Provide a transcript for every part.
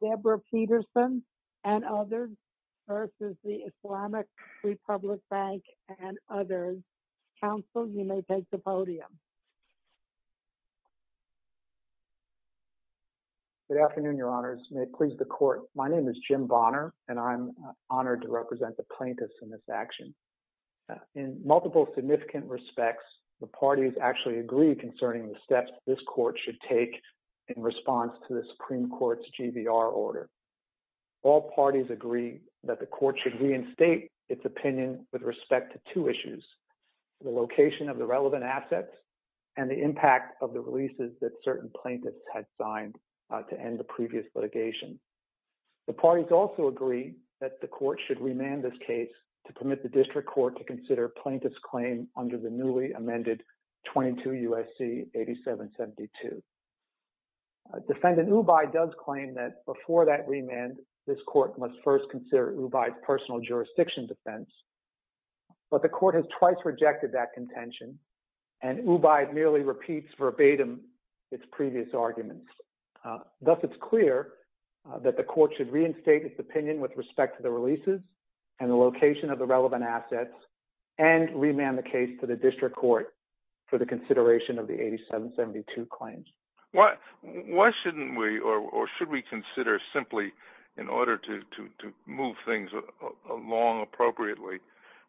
Deborah Peterson and others, versus the Islamic Republic Bank and others. Counsel, you may take the podium. Good afternoon, Your Honors. May it please the Court. My name is Jim Bonner, and I'm honored to represent the plaintiffs in this action. In multiple significant respects, the parties actually agree concerning the steps this Court should take in response to the Supreme Court's GVR order. All parties agree that the Court should reinstate its opinion with respect to two issues. The location of the relevant assets and the impact of the releases that certain plaintiffs had signed to end the previous litigation. The parties also agree that the Court should remand this case to permit the District Court to consider plaintiff's claim under the newly amended 22 U.S.C. 8772. Defendant Ubaid does claim that before that remand, this Court must first consider Ubaid's personal jurisdiction defense. But the Court has twice rejected that contention, and Ubaid merely repeats verbatim its previous arguments. Thus, it's clear that the Court should reinstate its opinion with respect to the releases and the location of the relevant assets and remand the case to the District Court for the consideration of the 8772 claims. Why shouldn't we, or should we consider simply in order to move things along appropriately,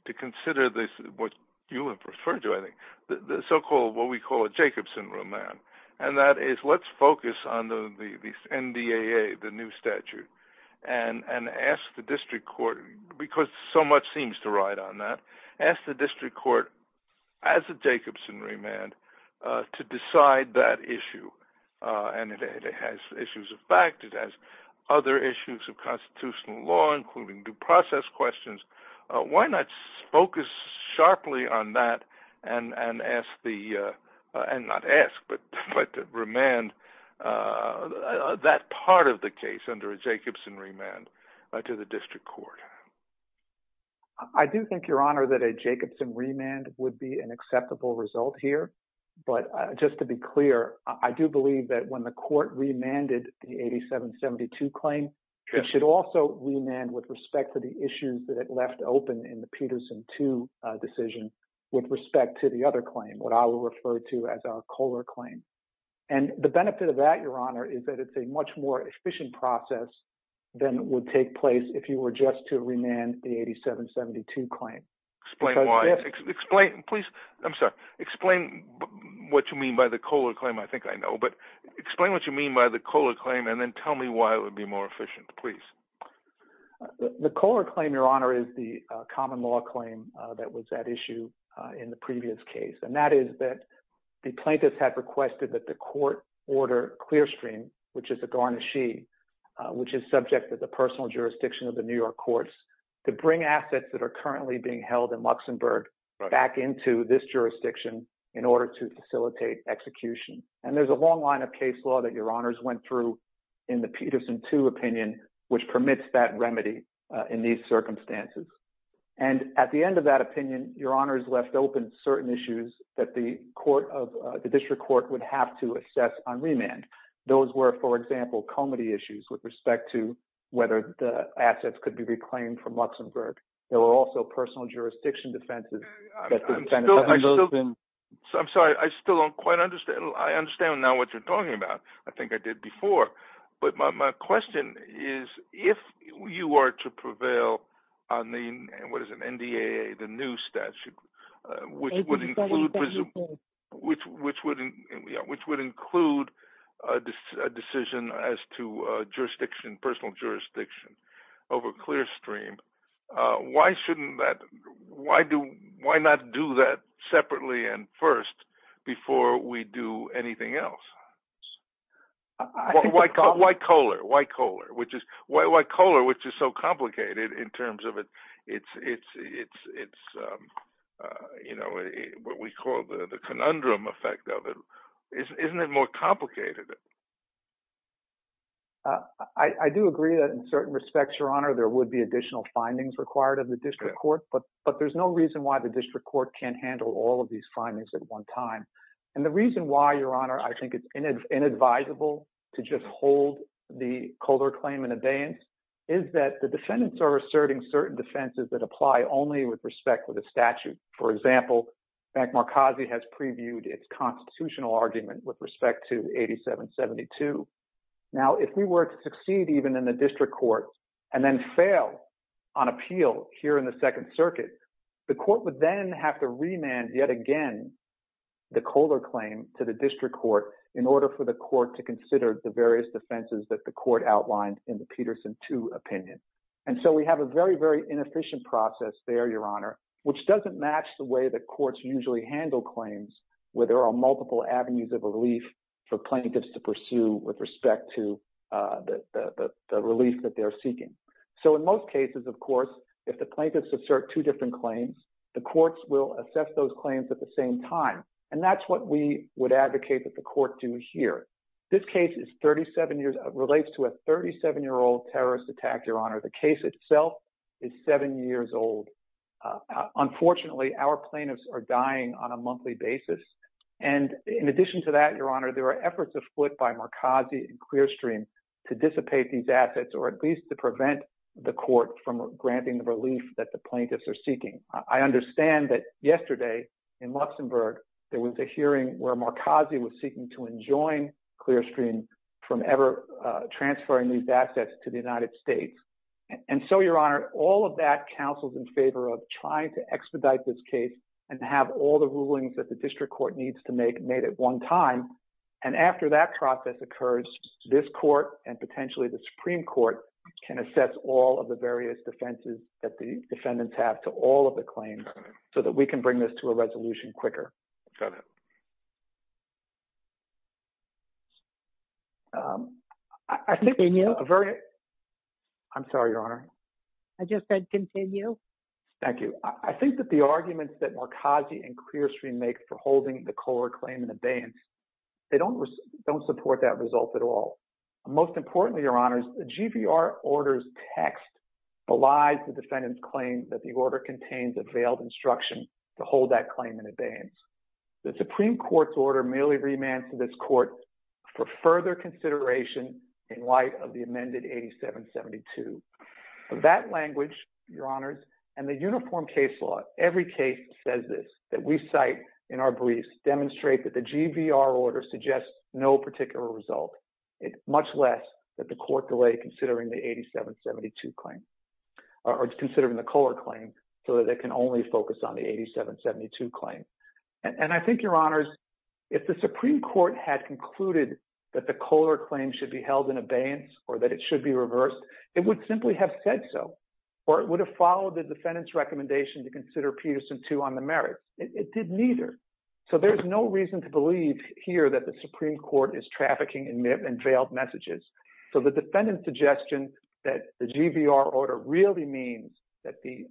to consider this, what you have referred to, I think, the so-called, what we call a Jacobson remand. And that is, let's focus on the NDAA, the new statute, and ask the District Court, because so much seems to ride on that, ask the District Court, as a Jacobson remand, to decide that issue. And it has issues of fact. It has other issues of constitutional law, including due process questions. Why not focus sharply on that and ask the – and not ask, but remand that part of the case under a Jacobson remand to the District Court? I do think, Your Honor, that a Jacobson remand would be an acceptable result here. But just to be clear, I do believe that when the Court remanded the 8772 claim, it should also remand with respect to the issues that it left open in the Peterson 2 decision with respect to the other claim, what I will refer to as our Kohler claim. And the benefit of that, Your Honor, is that it's a much more efficient process than would take place if you were just to remand the 8772 claim. Explain why. Please, I'm sorry. Explain what you mean by the Kohler claim. I think I know. But explain what you mean by the Kohler claim, and then tell me why it would be more efficient, please. The Kohler claim, Your Honor, is the common law claim that was at issue in the previous case, and that is that the plaintiffs had requested that the court order Clearstream, which is a garnishee, which is subject to the personal jurisdiction of the New York courts, to bring assets that are currently being held in Luxembourg back into this jurisdiction in order to facilitate execution. And there's a long line of case law that Your Honors went through in the Peterson 2 opinion, which permits that remedy in these circumstances. And at the end of that opinion, Your Honors left open certain issues that the court of the district court would have to assess on remand. Those were, for example, comity issues with respect to whether the assets could be reclaimed from Luxembourg. There were also personal jurisdiction defenses. I'm sorry. I still don't quite understand. I understand now what you're talking about. I think I did before. But my question is, if you are to prevail on the, what is it, NDAA, the new statute, which would include a decision as to jurisdiction, personal jurisdiction over Clearstream, why shouldn't that – why not do that separately and first before we do anything else? Why Kohler? Why Kohler, which is so complicated in terms of its – what we call the conundrum effect of it. Isn't it more complicated? I do agree that in certain respects, Your Honor, there would be additional findings required of the district court, but there's no reason why the district court can't handle all of these findings at one time. And the reason why, Your Honor, I think it's inadvisable to just hold the Kohler claim in abeyance is that the defendants are asserting certain defenses that apply only with respect to the statute. For example, Bank Markazi has previewed its constitutional argument with respect to 8772. Now, if we were to succeed even in the district court and then fail on appeal here in the Second Circuit, the court would then have to remand yet again the Kohler claim to the district court in order for the court to consider the various defenses that the court outlined in the Peterson 2 opinion. And so we have a very, very inefficient process there, Your Honor, which doesn't match the way that courts usually handle claims where there are multiple avenues of relief for plaintiffs to pursue with respect to the relief that they're seeking. So in most cases, of course, if the plaintiffs assert two different claims, the courts will assess those claims at the same time, and that's what we would advocate that the court do here. This case relates to a 37-year-old terrorist attack, Your Honor. The case itself is seven years old. Unfortunately, our plaintiffs are dying on a monthly basis. And in addition to that, Your Honor, there are efforts afoot by Markazi and Clearstream to dissipate these assets or at least to prevent the court from granting the relief that the plaintiffs are seeking. I understand that yesterday in Luxembourg, there was a hearing where Markazi was seeking to enjoin Clearstream from ever transferring these assets to the United States. And so, Your Honor, all of that counsels in favor of trying to expedite this case and have all the rulings that the district court needs to make made at one time. And after that process occurs, this court and potentially the Supreme Court can assess all of the various defenses that the defendants have to all of the claims so that we can bring this to a resolution quicker. I'm sorry, Your Honor. I just said continue. Thank you. I think that the arguments that Markazi and Clearstream make for holding the Kohler claim in abeyance, they don't support that result at all. Most importantly, Your Honor, the GVR order's text belies the defendant's claim that the order contains a veiled instruction to hold that claim in abeyance. The Supreme Court's order merely remands to this court for further consideration in light of the amended 8772. That language, Your Honors, and the uniform case law, every case says this, that we cite in our briefs demonstrate that the GVR order suggests no particular result, much less that the court delay considering the 8772 claim or considering the Kohler claim so that it can only focus on the 8772 claim. And I think, Your Honors, if the Supreme Court had concluded that the Kohler claim should be held in abeyance or that it should be reversed, it would simply have said so, or it would have followed the defendant's recommendation to consider Peterson 2 on the merits. It did neither. So there's no reason to believe here that the Supreme Court is trafficking in veiled messages. So the defendant's suggestion that the GVR order really means that the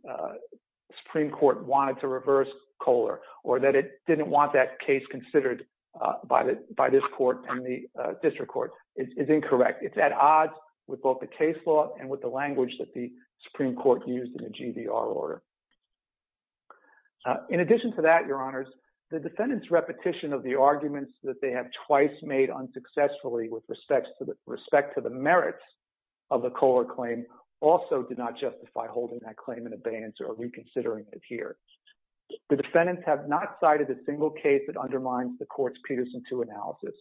Supreme Court wanted to reverse Kohler or that it didn't want that case considered by this court and the district court is incorrect. It's at odds with both the case law and with the language that the Supreme Court used in the GVR order. In addition to that, Your Honors, the defendant's repetition of the arguments that they have twice made unsuccessfully with respect to the merits of the Kohler claim also did not justify holding that claim in abeyance or reconsidering it here. The defendants have not cited a single case that undermines the court's Peterson 2 analysis,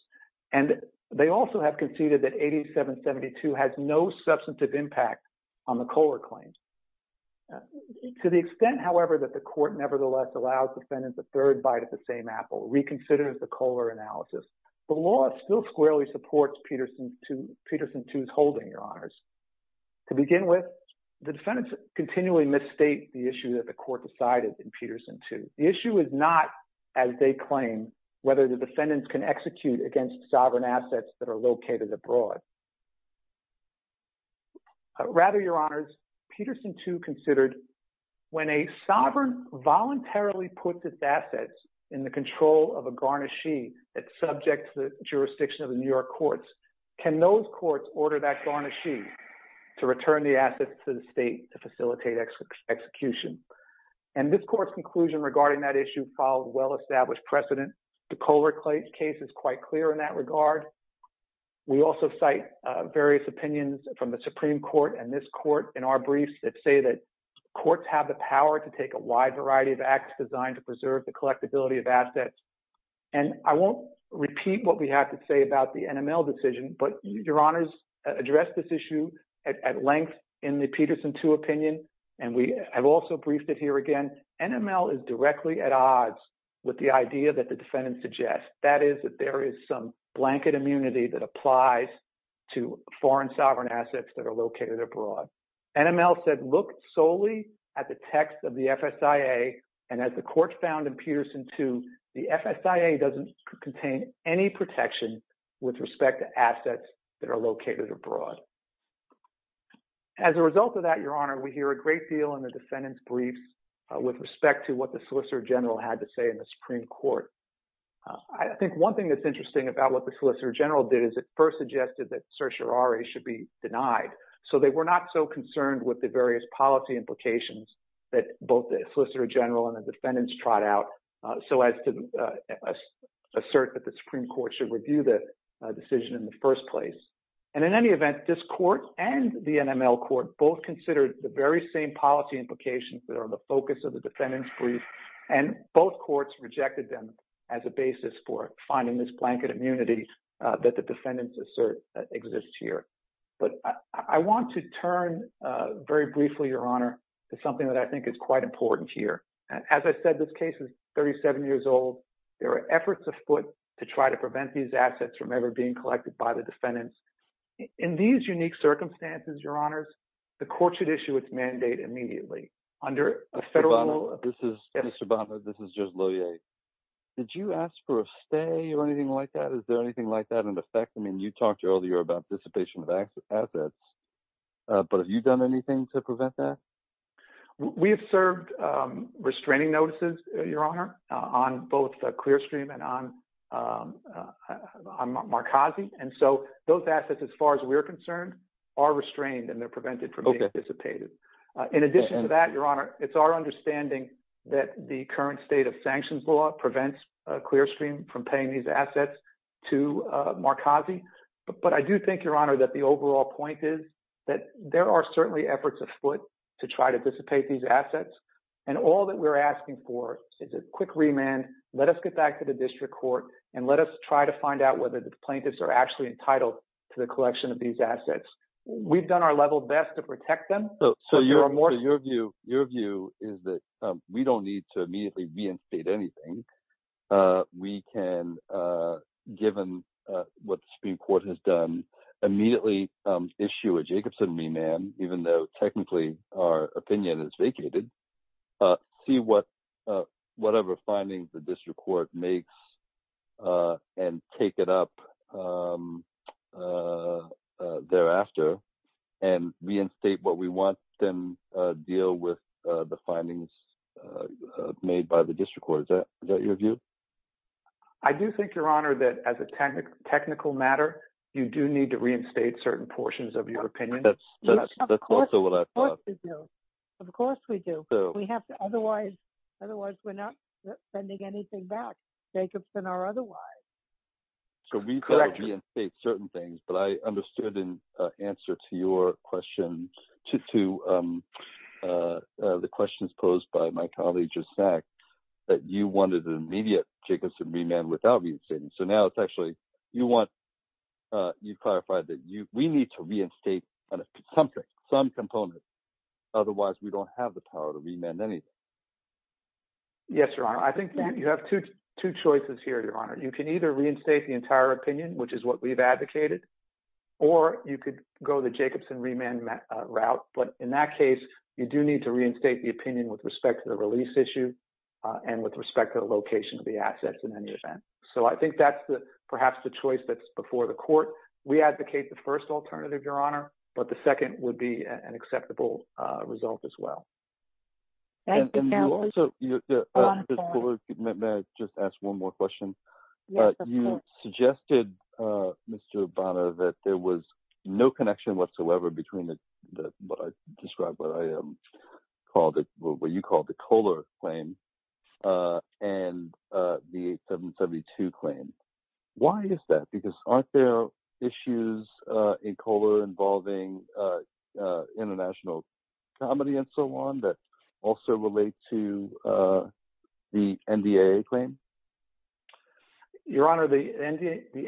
and they also have conceded that 8772 has no substantive impact on the Kohler claim. To the extent, however, that the court nevertheless allows defendants a third bite at the same apple, reconsidering the Kohler analysis, the law still squarely supports Peterson 2's holding, Your Honors. To begin with, the defendants continually misstate the issue that the court decided in Peterson 2. The issue is not, as they claim, whether the defendants can execute against sovereign assets that are located abroad. Rather, Your Honors, Peterson 2 considered when a sovereign voluntarily puts its assets in the control of a garnishee that's subject to the jurisdiction of the New York courts, can those courts order that garnishee to return the assets to the state to facilitate execution? And this court's conclusion regarding that issue followed well-established precedent. The Kohler case is quite clear in that regard. We also cite various opinions from the Supreme Court and this court in our briefs that say that courts have the power to take a wide variety of acts designed to preserve the collectibility of assets. And I won't repeat what we have to say about the NML decision, but Your Honors addressed this issue at length in the Peterson 2 opinion, and we have also briefed it here again. And NML is directly at odds with the idea that the defendant suggests, that is, that there is some blanket immunity that applies to foreign sovereign assets that are located abroad. NML said, look solely at the text of the FSIA, and as the court found in Peterson 2, the FSIA doesn't contain any protection with respect to assets that are located abroad. As a result of that, Your Honor, we hear a great deal in the defendant's briefs with respect to what the Solicitor General had to say in the Supreme Court. I think one thing that's interesting about what the Solicitor General did is it first suggested that certiorari should be denied. So they were not so concerned with the various policy implications that both the Solicitor General and the defendants trot out so as to assert that the Supreme Court should review the decision in the first place. And in any event, this court and the NML court both considered the very same policy implications that are the focus of the defendant's brief, and both courts rejected them as a basis for finding this blanket immunity that the defendants assert exists here. But I want to turn very briefly, Your Honor, to something that I think is quite important here. As I said, this case is 37 years old. There are efforts afoot to try to prevent these assets from ever being collected by the defendants. In these unique circumstances, Your Honors, the court should issue its mandate immediately under a federal law. Mr. Bonner, this is Judge Loyer. Did you ask for a stay or anything like that? Is there anything like that in effect? I mean, you talked earlier about dissipation of assets, but have you done anything to prevent that? We have served restraining notices, Your Honor, on both Clearstream and on Marcazi. And so those assets, as far as we're concerned, are restrained and they're prevented from being dissipated. In addition to that, Your Honor, it's our understanding that the current state of sanctions law prevents Clearstream from paying these assets to Marcazi. But I do think, Your Honor, that the overall point is that there are certainly efforts afoot to try to dissipate these assets. And all that we're asking for is a quick remand. Let us get back to the district court and let us try to find out whether the plaintiffs are actually entitled to the collection of these assets. We've done our level best to protect them. So your view is that we don't need to immediately reinstate anything. We can, given what the Supreme Court has done, immediately issue a Jacobson remand, even though technically our opinion is vacated. We can see whatever findings the district court makes and take it up thereafter and reinstate what we want and deal with the findings made by the district court. Is that your view? I do think, Your Honor, that as a technical matter, you do need to reinstate certain portions of your opinion. That's also what I thought. Of course we do. Of course we do. Otherwise, we're not sending anything back. Jacobson or otherwise. So we could reinstate certain things, but I understood in answer to your question, to the questions posed by my colleague just now, that you wanted an immediate Jacobson remand without reinstating. So now it's actually you want – you've clarified that we need to reinstate something, some component. Otherwise, we don't have the power to remand anything. Yes, Your Honor. I think you have two choices here, Your Honor. You can either reinstate the entire opinion, which is what we've advocated, or you could go the Jacobson remand route. But in that case, you do need to reinstate the opinion with respect to the release issue and with respect to the location of the assets in any event. But that's perhaps the choice that's before the court. We advocate the first alternative, Your Honor, but the second would be an acceptable result as well. Thank you. May I just ask one more question? Yes, of course. You suggested, Mr. Bonner, that there was no connection whatsoever between what I described, what I called – what you called the Kohler claim and the 8772 claim. Why is that? Because aren't there issues in Kohler involving international comedy and so on that also relate to the NDAA claim? Your Honor, the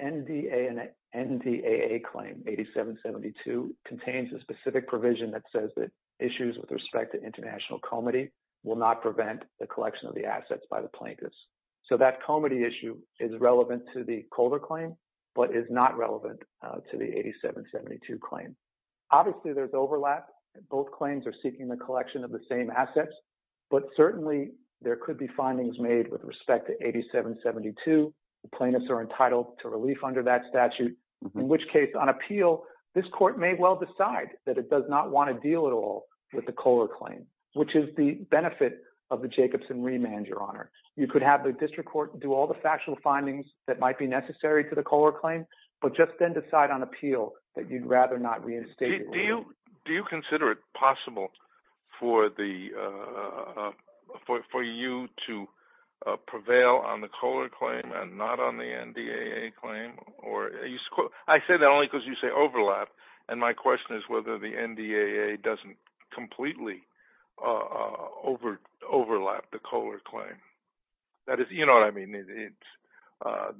NDAA claim, 8772, contains a specific provision that says that issues with respect to international comedy will not prevent the collection of the assets by the plaintiffs. So that comedy issue is relevant to the Kohler claim but is not relevant to the 8772 claim. Obviously, there's overlap. Both claims are seeking the collection of the same assets, but certainly, there could be findings made with respect to 8772. The plaintiffs are entitled to relief under that statute, in which case, on appeal, this court may well decide that it does not want to deal at all with the Kohler claim, which is the benefit of the Jacobson remand, Your Honor. The district court can do all the factual findings that might be necessary to the Kohler claim, but just then decide on appeal that you'd rather not reinstate relief. Do you consider it possible for the – for you to prevail on the Kohler claim and not on the NDAA claim? I say that only because you say overlap, and my question is whether the NDAA doesn't completely overlap the Kohler claim. That is – you know what I mean. Maybe I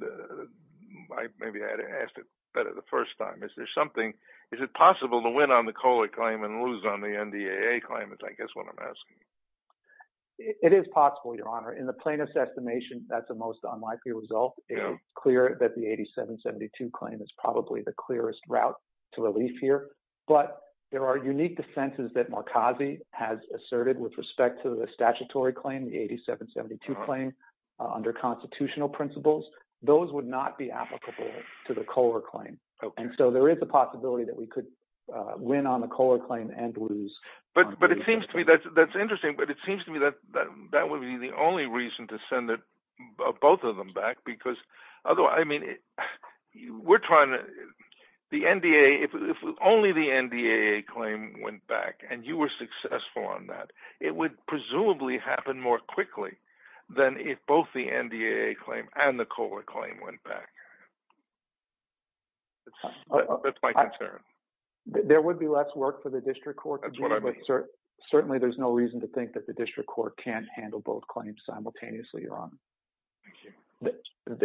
had asked it better the first time. Is there something – is it possible to win on the Kohler claim and lose on the NDAA claim is I guess what I'm asking. It is possible, Your Honor. In the plaintiff's estimation, that's the most unlikely result. It is clear that the 8772 claim is probably the clearest route to relief here. But there are unique defenses that Markazi has asserted with respect to the statutory claim, the 8772 claim under constitutional principles. Those would not be applicable to the Kohler claim, and so there is a possibility that we could win on the Kohler claim and lose on the NDAA claim. But it seems to me – that's interesting, but it seems to me that that would be the only reason to send both of them back because – although, I mean, we're trying to – the NDAA – if only the NDAA claim went back and you were successful on that, it would presumably happen more quickly than if both the NDAA claim and the Kohler claim went back. That's my concern. There would be less work for the district court to do, but certainly there's no reason to think that the district court can't handle both claims simultaneously, Your Honor.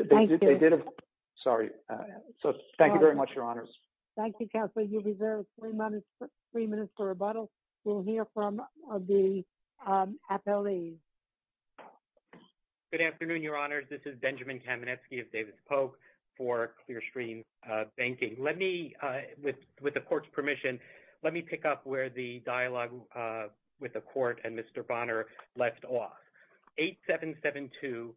Thank you. Sorry. So thank you very much, Your Honors. Thank you, Counselor. You've reserved three minutes for rebuttal. We'll hear from the appellees. Good afternoon, Your Honors. This is Benjamin Kamenetsky of Davis-Polk for Clearstream Banking. Let me – with the court's permission, let me pick up where the dialogue with the court and Mr. Bonner left off. 8772,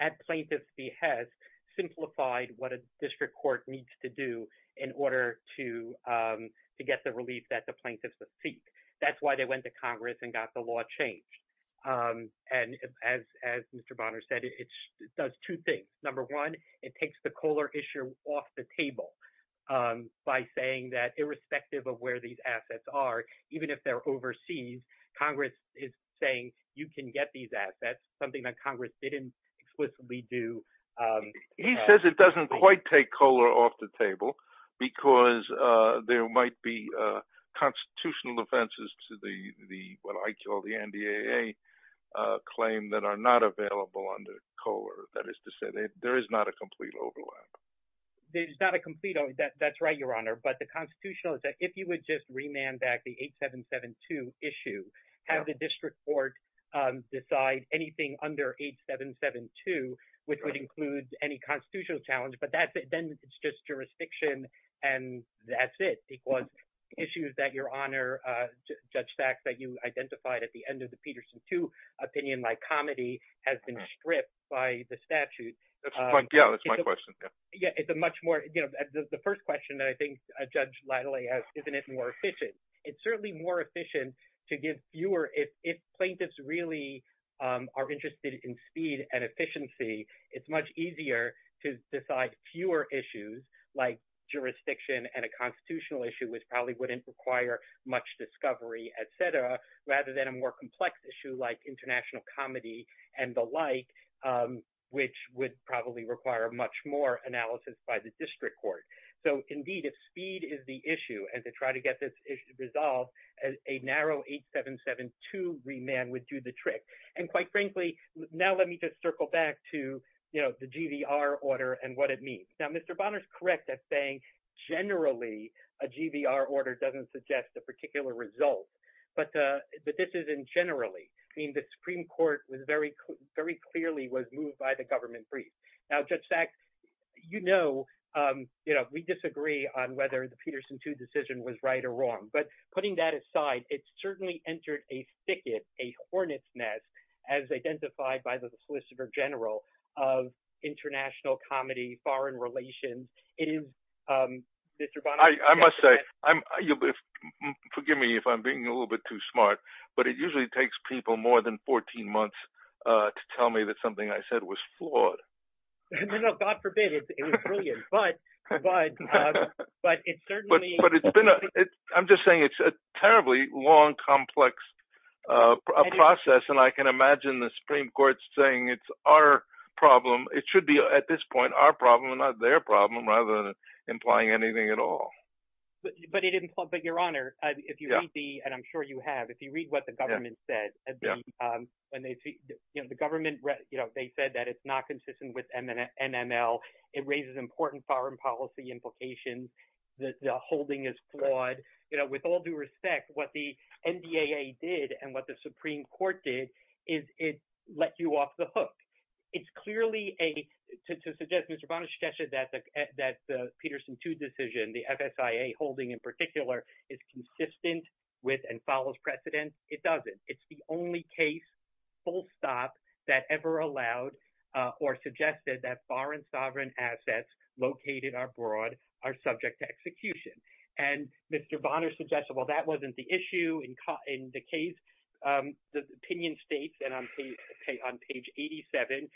at plaintiff's behest, simplified what a district court needs to do in order to get the relief that the plaintiffs seek. That's why they went to Congress and got the law changed. And as Mr. Bonner said, it does two things. Number one, it takes the Kohler issue off the table by saying that irrespective of where these assets are, even if they're overseas, Congress is saying you can get these assets. That's something that Congress didn't explicitly do. He says it doesn't quite take Kohler off the table because there might be constitutional offenses to the – what I call the NDAA claim that are not available under Kohler. That is to say, there is not a complete overlap. There's not a complete – that's right, Your Honor. But the constitutional is that if you would just remand back the 8772 issue, have the district court decide anything under 8772, which would include any constitutional challenge. But that's – then it's just jurisdiction and that's it because issues that Your Honor, Judge Sachs, that you identified at the end of the Peterson 2 opinion, like comedy, has been stripped by the statute. That's my – yeah, that's my question. Yeah, it's a much more – the first question that I think Judge Latale has, isn't it more efficient? It's certainly more efficient to give fewer – if plaintiffs really are interested in speed and efficiency, it's much easier to decide fewer issues like jurisdiction and a constitutional issue, which probably wouldn't require much discovery, et cetera, rather than a more complex issue like international comedy and the like, which would probably require much more analysis by the district court. So indeed, if speed is the issue and to try to get this issue resolved, a narrow 8772 remand would do the trick. And quite frankly, now let me just circle back to the GVR order and what it means. Now, Mr. Bonner is correct at saying generally a GVR order doesn't suggest a particular result, but this isn't generally. I mean the Supreme Court was very clearly was moved by the government brief. Now, Judge Sachs, you know we disagree on whether the Peterson 2 decision was right or wrong, but putting that aside, it certainly entered a thicket, a hornet's nest as identified by the solicitor general of international comedy, foreign relations. I must say – forgive me if I'm being a little bit too smart, but it usually takes people more than 14 months to tell me that something I said was flawed. No, no, God forbid. It was brilliant. But it certainly – But it's been – I'm just saying it's a terribly long, complex process, and I can imagine the Supreme Court saying it's our problem. It should be at this point our problem and not their problem rather than implying anything at all. But Your Honor, if you read the – and I'm sure you have. If you read what the government said, the government – they said that it's not consistent with NML. It raises important foreign policy implications. The holding is flawed. With all due respect, what the NDAA did and what the Supreme Court did is it let you off the hook. It's clearly a – to suggest – Mr. Bonner suggested that the Peterson 2 decision, the FSIA holding in particular, is consistent with and follows precedent. It doesn't. It's the only case, full stop, that ever allowed or suggested that foreign sovereign assets located abroad are subject to execution. And Mr. Bonner suggested, well, that wasn't the issue in the case. The opinion states, and on page 87,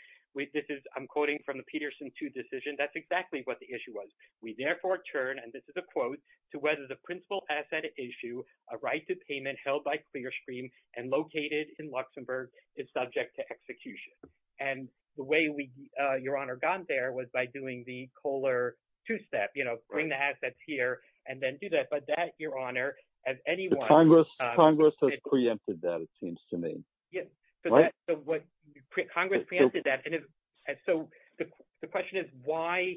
this is – I'm quoting from the Peterson 2 decision. That's exactly what the issue was. We therefore turn – and this is a quote – to whether the principal asset issue, a right to payment held by Clearstream and located in Luxembourg, is subject to execution. And the way we, Your Honor, got there was by doing the Kohler two-step, bring the assets here and then do that. But that, Your Honor, as anyone – Congress has preempted that, it seems to me. Yes. So that's what – Congress preempted that. And so the question is why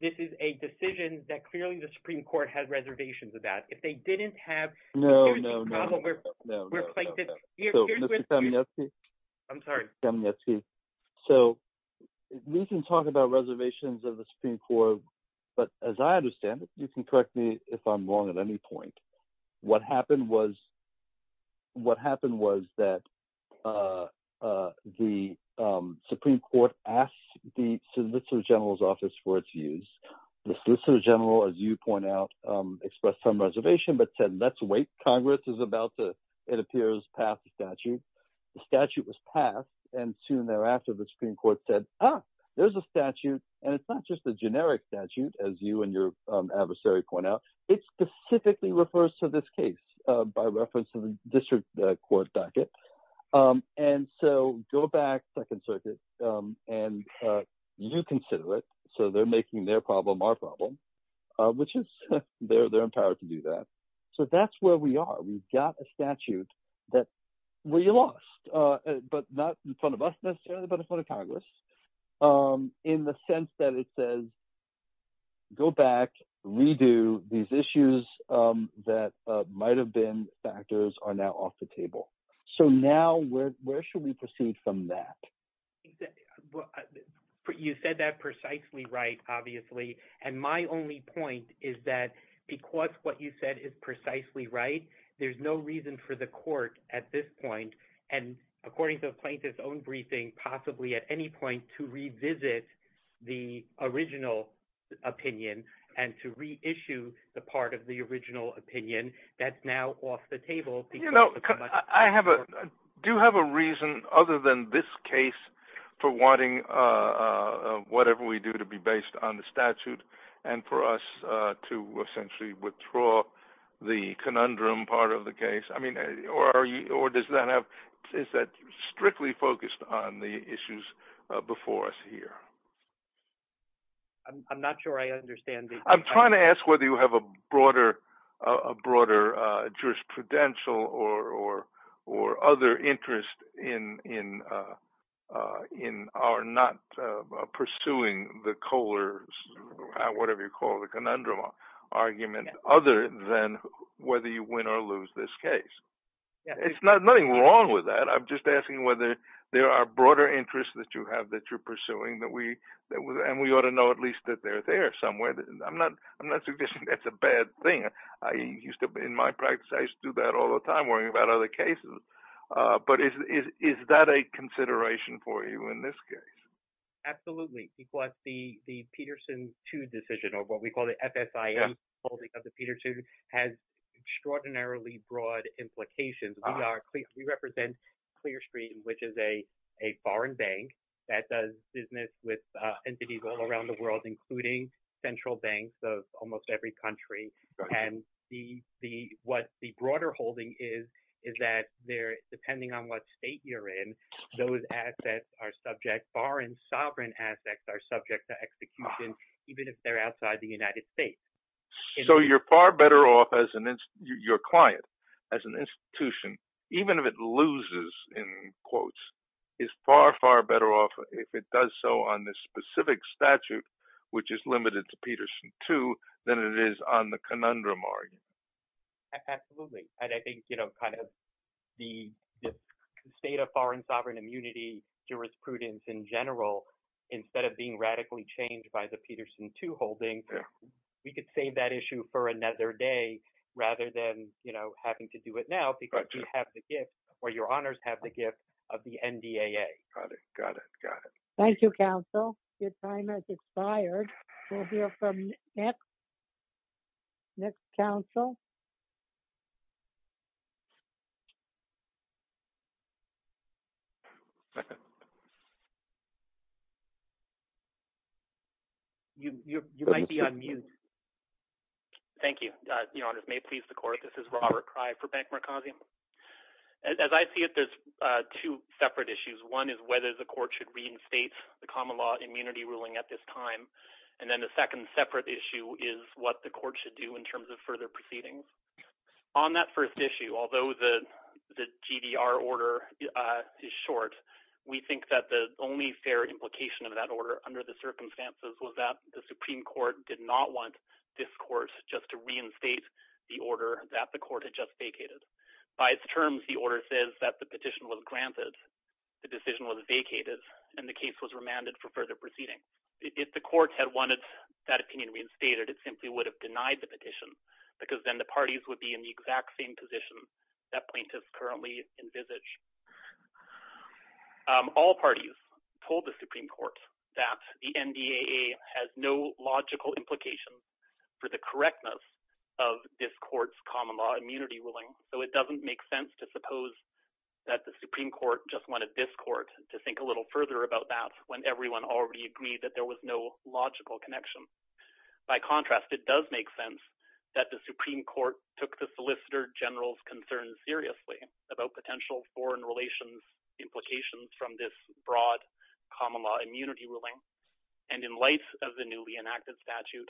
this is a decision that clearly the Supreme Court has reservations about. If they didn't have – No, no, no. Mr. Kamenetsky. I'm sorry. Kamenetsky. So we can talk about reservations of the Supreme Court, but as I understand it – you can correct me if I'm wrong at any point – what happened was that the Supreme Court asked the solicitor general's office for its views. The solicitor general, as you point out, expressed some reservation but said, let's wait. Congress is about to, it appears, pass the statute. The statute was passed, and soon thereafter the Supreme Court said, ah, there's a statute, and it's not just a generic statute, as you and your adversary point out. It specifically refers to this case by reference to the district court docket. And so go back, Second Circuit, and you consider it. So they're making their problem our problem, which is they're empowered to do that. So that's where we are. We've got a statute that we lost, but not in front of us necessarily, but in front of Congress in the sense that it says go back, redo these issues that might have been factors are now off the table. So now where should we proceed from that? You said that precisely right, obviously, and my only point is that because what you said is precisely right, there's no reason for the court at this point, and according to the plaintiff's own briefing, possibly at any point to revisit the original opinion and to reissue the part of the original opinion that's now off the table. I do have a reason other than this case for wanting whatever we do to be based on the statute and for us to essentially withdraw the conundrum part of the case. I mean, or does that have – is that strictly focused on the issues before us here? I'm not sure I understand. I'm trying to ask whether you have a broader jurisprudential or other interest in our not pursuing the Kohler's, whatever you call it, the conundrum argument other than whether you win or lose this case. There's nothing wrong with that. I'm just asking whether there are broader interests that you have that you're pursuing that we – and we ought to know at least that they're there somewhere. I'm not suggesting that's a bad thing. I used to – in my practice, I used to do that all the time worrying about other cases. But is that a consideration for you in this case? Absolutely. What the Peterson 2 decision or what we call the FSIM holding of the Peter 2 has extraordinarily broad implications. We represent Clearstream, which is a foreign bank that does business with entities all around the world, including central banks of almost every country. And what the broader holding is is that they're – depending on what state you're in, those assets are subject – foreign sovereign assets are subject to execution even if they're outside the United States. So you're far better off as an – your client as an institution, even if it loses in quotes, is far, far better off if it does so on this specific statute, which is limited to Peterson 2, than it is on the conundrum argument. Absolutely. And I think kind of the state of foreign sovereign immunity jurisprudence in general, instead of being radically changed by the Peterson 2 holding, we could save that issue for another day rather than having to do it now because you have the gift or your honors have the gift of the NDAA. Got it. Got it. Got it. Thank you, counsel. Your time has expired. We'll hear from next – next counsel. You might be on mute. Thank you. Your honors, may it please the court, this is Robert Cry for Bank Mercosur. As I see it, there's two separate issues. One is whether the court should reinstate the common law immunity ruling at this time. And then the second separate issue is what the court should do in terms of further proceedings. On that first issue, although the GDR order is short, we think that the only fair implication of that order under the circumstances was that the Supreme Court did not want this court just to reinstate the order that the court had just vacated. By its terms, the order says that the petition was granted, the decision was vacated, and the case was remanded for further proceeding. If the court had wanted that opinion reinstated, it simply would have denied the petition because then the parties would be in the exact same position that plaintiffs currently envisage. All parties told the Supreme Court that the NDAA has no logical implications for the correctness of this court's common law immunity ruling, so it doesn't make sense to suppose that the Supreme Court just wanted this court to think a little further about that when everyone already agreed that there was no logical connection. By contrast, it does make sense that the Supreme Court took the Solicitor General's concerns seriously about potential foreign relations implications from this broad common law immunity ruling, and in light of the newly enacted statute,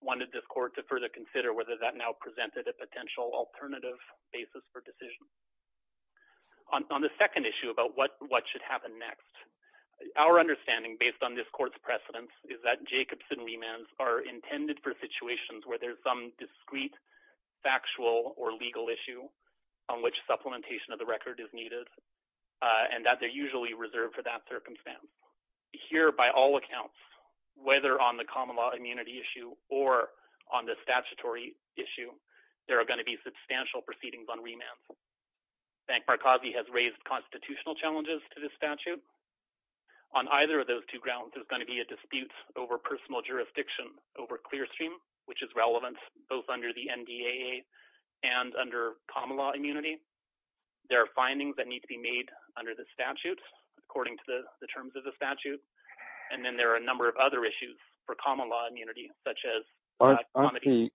wanted this court to further consider whether that now presented a potential alternative basis for decision. On the second issue about what should happen next, our understanding based on this court's precedence is that Jacobson remands are intended for situations where there's some discrete, factual, or legal issue on which supplementation of the record is needed, and that they're usually reserved for that circumstance. Here, by all accounts, whether on the common law immunity issue or on the statutory issue, there are going to be substantial proceedings on remands. Bank Markazi has raised constitutional challenges to this statute. On either of those two grounds, there's going to be a dispute over personal jurisdiction over Clearstream, which is relevant both under the NDAA and under common law immunity. There are findings that need to be made under the statute according to the terms of the statute, and then there are a number of other issues for common law immunity such as… Aren't the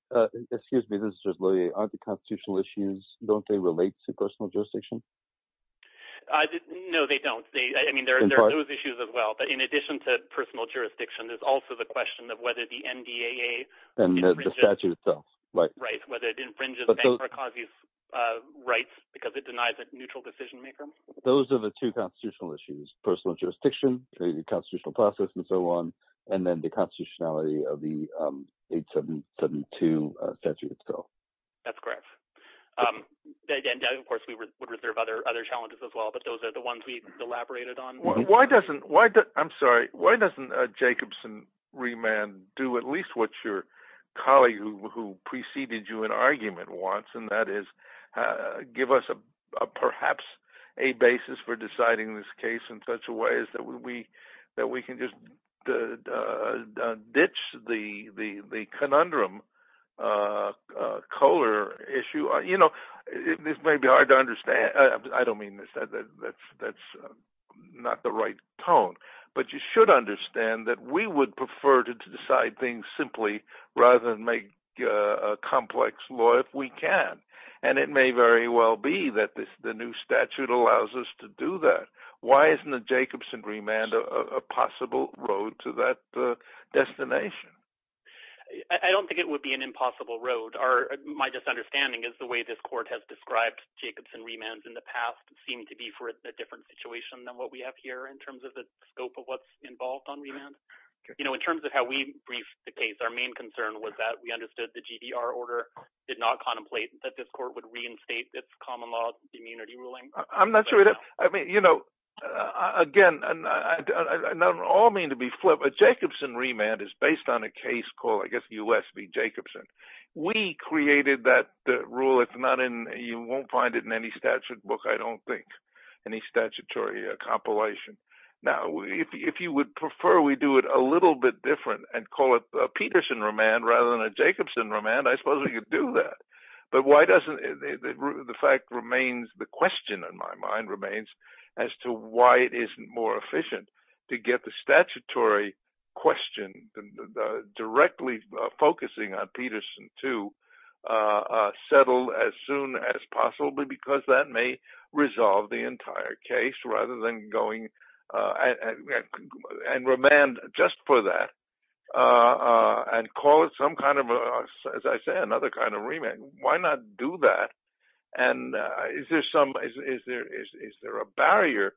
constitutional issues – don't they relate to personal jurisdiction? No, they don't. I mean there are those issues as well. But in addition to personal jurisdiction, there's also the question of whether the NDAA… And the statute itself. Right, whether it infringes Bank Markazi's rights because it denies a neutral decision maker. Those are the two constitutional issues, personal jurisdiction, the constitutional process, and so on, and then the constitutionality of the 872 statute itself. That's correct. Of course, we would reserve other challenges as well, but those are the ones we've elaborated on. I'm sorry. Why doesn't Jacobson remand do at least what your colleague who preceded you in argument wants, and that is give us perhaps a basis for deciding this case in such a way that we can just ditch the conundrum Kohler issue? This may be hard to understand. I don't mean this. That's not the right tone. But you should understand that we would prefer to decide things simply rather than make a complex law if we can. And it may very well be that the new statute allows us to do that. Why isn't the Jacobson remand a possible road to that destination? I don't think it would be an impossible road. My misunderstanding is the way this court has described Jacobson remand in the past seemed to be for a different situation than what we have here in terms of the scope of what's involved on remand. In terms of how we briefed the case, our main concern was that we understood the GDR order did not contemplate that this court would reinstate its common law immunity ruling. I'm not sure. I mean, you know, again, I don't all mean to be flippant. Jacobson remand is based on a case called, I guess, U.S. v. Jacobson. We created that rule. It's not in you won't find it in any statute book, I don't think any statutory compilation. Now, if you would prefer we do it a little bit different and call it Peterson remand rather than a Jacobson remand, I suppose we could do that. But why doesn't the fact remains the question in my mind remains as to why it isn't more efficient to get the statutory question directly focusing on Peterson to settle as soon as possibly, because that may resolve the entire case rather than going and remand just for that. And call it some kind of, as I said, another kind of remand. Why not do that? And is there some is there is there a barrier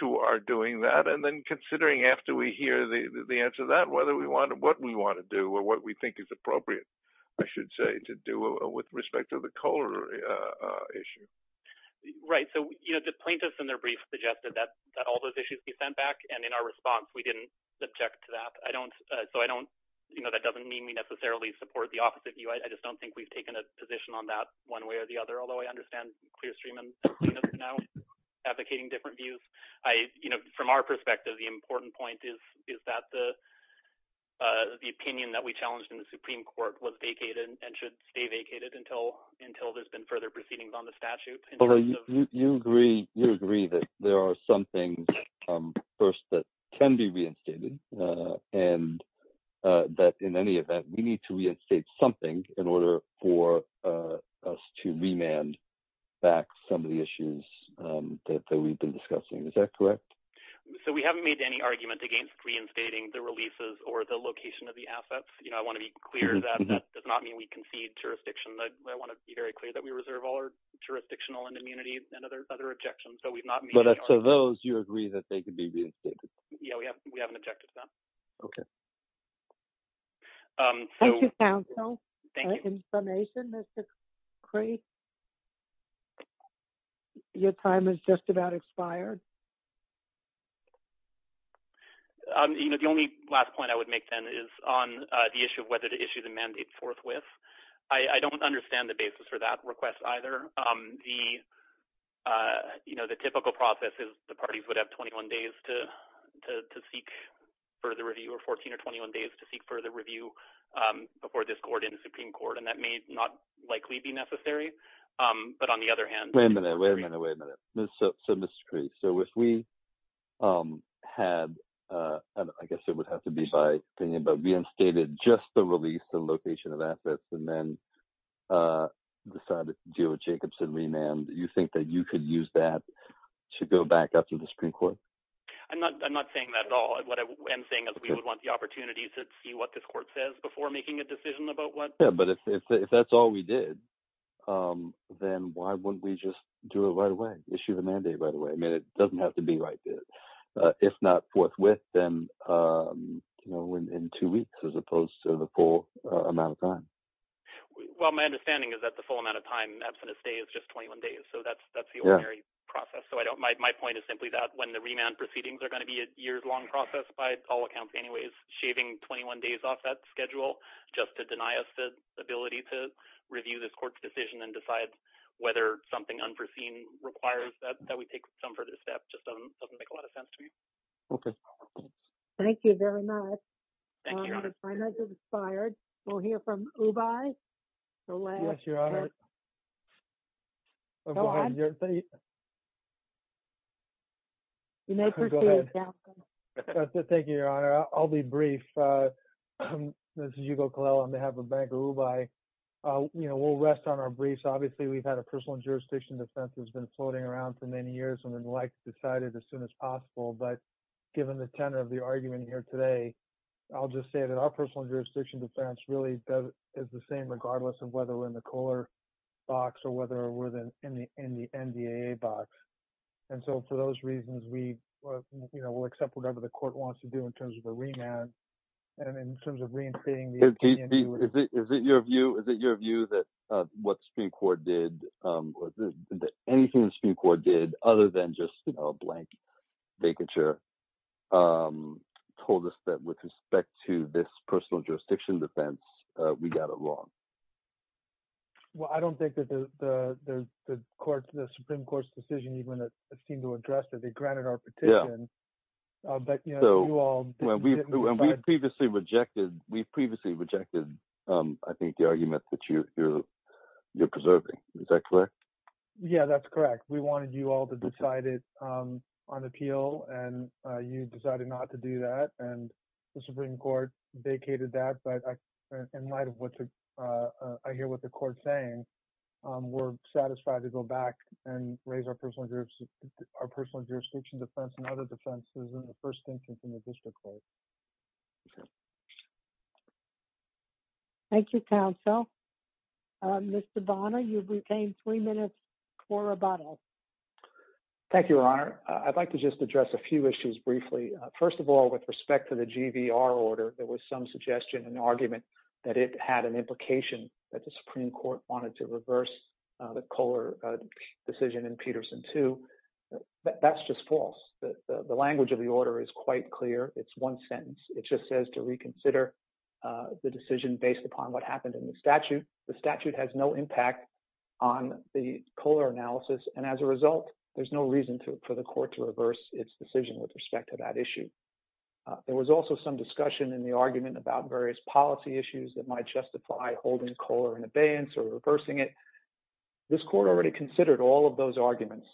to our doing that? And then considering after we hear the answer that whether we want to what we want to do or what we think is appropriate, I should say, to do with respect to the Kohler issue. Right. So, you know, the plaintiffs in their brief suggested that all those issues be sent back. And in our response, we didn't object to that. I don't so I don't you know, that doesn't mean we necessarily support the opposite view. I just don't think we've taken a position on that one way or the other. Although I understand clear stream and now advocating different views, I you know, from our perspective, the important point is, is that the the opinion that we challenged in the Supreme Court was vacated and should stay vacated until until there's been further proceedings on the statute. You agree, you agree that there are some things first that can be reinstated and that in any event, we need to reinstate something in order for us to remand back some of the issues that we've been discussing. Is that correct? So we haven't made any argument against reinstating the releases or the location of the assets. You know, I want to be clear that that does not mean we concede jurisdiction. I want to be very clear that we reserve all our jurisdictional and immunity and other other objections. So we've not met. So those you agree that they could be. Yeah, we have we have an objective. Okay. Thank you, counsel. Thank you. Information that's great. Your time is just about expired. You know, the only last point I would make then is on the issue of whether to issue the mandate forthwith. I don't understand the basis for that request either. The, you know, the typical process is the parties would have 21 days to to to seek further review or 14 or 21 days to seek further review before this court in the Supreme Court. And that may not likely be necessary. But on the other hand, wait a minute, wait a minute, wait a minute. So, so, Mr. So if we had, I guess it would have to be by thinking about reinstated just the release the location of assets and then decided to deal with Jacobson remand. Do you think that you could use that to go back up to the Supreme Court? I'm not I'm not saying that at all. But what I am saying is we would want the opportunity to see what this court says before making a decision about what. But if that's all we did, then why wouldn't we just do it right away issue the mandate right away. I mean, it doesn't have to be right. If not forthwith, then in two weeks, as opposed to the full amount of time. Well, my understanding is that the full amount of time that's going to stay is just 21 days so that's that's the process so I don't my point is simply that when the remand proceedings are going to be a year long process by all accounts anyways shaving 21 days off that schedule, just to deny us the ability to review this court's decision and decide whether something unforeseen requires that we take some further steps just doesn't make a lot of sense to me. Thank you very much. Thank you. I'm inspired. We'll hear from. Bye. Bye. Bye. Bye. Thank you. I'll be brief. This is you go call on behalf of Bangor by, you know, we'll rest on our briefs obviously we've had a personal jurisdiction defense has been floating around for many years and then like decided as soon as possible but given the tenor of the argument here today. I'll just say that our personal jurisdiction defense really is the same regardless of whether we're in the color box or whether we're in the, in the NBA box. And so for those reasons we will accept whatever the court wants to do in terms of a remand. And in terms of reentering. Is it your view is that your view that what Supreme Court did anything the Supreme Court did other than just a blank vacature told us that with respect to this personal jurisdiction defense, we got it wrong. Well, I don't think that the court, the Supreme Court's decision even a single address that they granted our petition. But, you know, we previously rejected, we previously rejected. I think the argument that you, you're preserving. Is that correct. Yeah, that's correct. We wanted you all to decide it on appeal and you decided not to do that, and the Supreme Court vacated that but in light of what I hear what the court saying. We're satisfied to go back and raise our personal groups, our personal jurisdiction defense and other defenses in the first instance in the district court. Thank you counsel. Mr Bonner you've retained three minutes for rebuttal. Thank you, Your Honor, I'd like to just address a few issues briefly. First of all, with respect to the GVR order, there was some suggestion and argument that it had an implication that the Supreme Court wanted to reverse the color decision and Peterson to. That's just false. The language of the order is quite clear. It's one sentence, it just says to reconsider the decision based upon what happened in the statute, the statute has no impact on the color analysis and as a result, there's no reason to for the court to reverse its decision with respect to that issue. There was also some discussion in the argument about various policy issues that might justify holding color and abeyance or reversing it. This court already considered all of those arguments.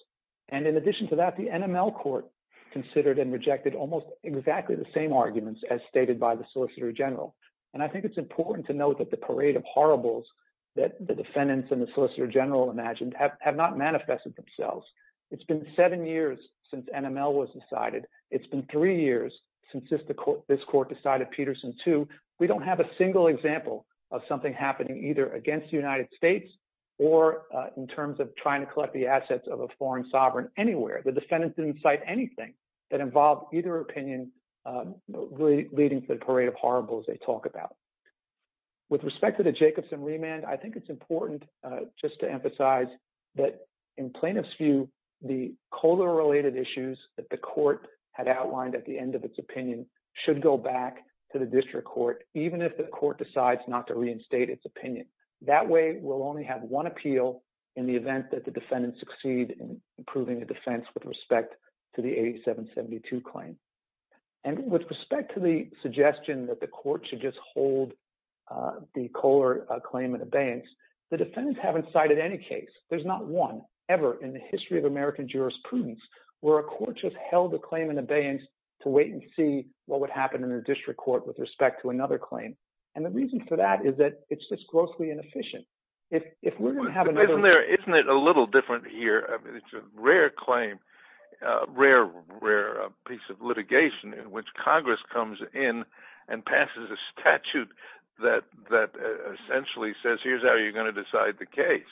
And in addition to that the NML court considered and rejected almost exactly the same arguments as stated by the Solicitor General, and I think it's important to note that the parade of horribles that the defendants and the Solicitor General imagined have not manifested themselves. It's been seven years since NML was decided. It's been three years since this court decided Peterson too. We don't have a single example of something happening either against the United States, or in terms of trying to collect the assets of a foreign sovereign anywhere. The defendants didn't cite anything that involved either opinion leading to the parade of horribles they talk about. With respect to the Jacobson remand, I think it's important just to emphasize that in plaintiff's view, the color related issues that the court had outlined at the end of its opinion should go back to the district court, even if the court decides not to reinstate its opinion. That way, we'll only have one appeal in the event that the defendants succeed in improving the defense with respect to the 8772 claim. And with respect to the suggestion that the court should just hold the color claim and abeyance, the defendants haven't cited any case. There's not one ever in the history of American jurisprudence, where a court just held a claim and abeyance to wait and see what would happen in a district court with respect to another claim. And the reason for that is that it's just grossly inefficient. Isn't it a little different here? It's a rare claim, a rare, rare piece of litigation in which Congress comes in and passes a statute that essentially says, here's how you're going to decide the case.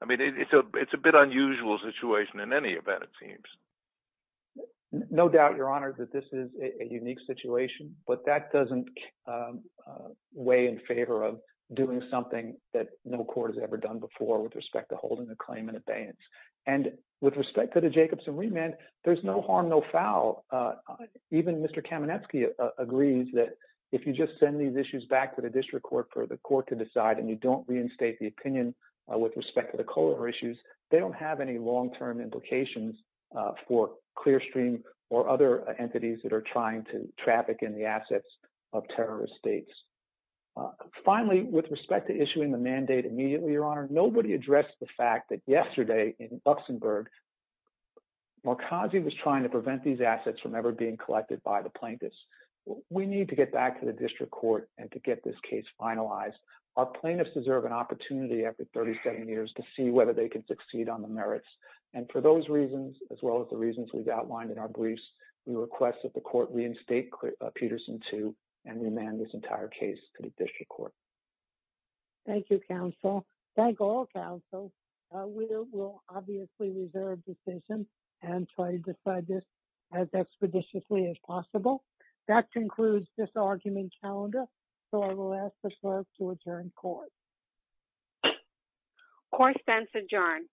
I mean, it's a bit unusual situation in any event, it seems. No doubt, Your Honor, that this is a unique situation, but that doesn't weigh in favor of doing something that no court has ever done before with respect to holding a claim and abeyance. And with respect to the Jacobson remand, there's no harm, no foul. Even Mr. Kamenetsky agrees that if you just send these issues back to the district court for the court to decide and you don't reinstate the opinion with respect to the color issues, they don't have any long-term implications for Clearstream or other entities that are trying to traffic in the assets of terrorist states. Finally, with respect to issuing the mandate immediately, Your Honor, nobody addressed the fact that yesterday in Luxembourg, Malkazi was trying to prevent these assets from ever being collected by the plaintiffs. We need to get back to the district court and to get this case finalized. Our plaintiffs deserve an opportunity after 30, 70 years to see whether they can succeed on the merits. And for those reasons, as well as the reasons we've outlined in our briefs, we request that the court reinstate Peterson 2 and remand this entire case to the district court. Thank you, counsel. Thank all, counsel. We will obviously reserve decisions and try to decide this as expeditiously as possible. That concludes this argument calendar, so I will ask the clerk to adjourn court. Court stands adjourned.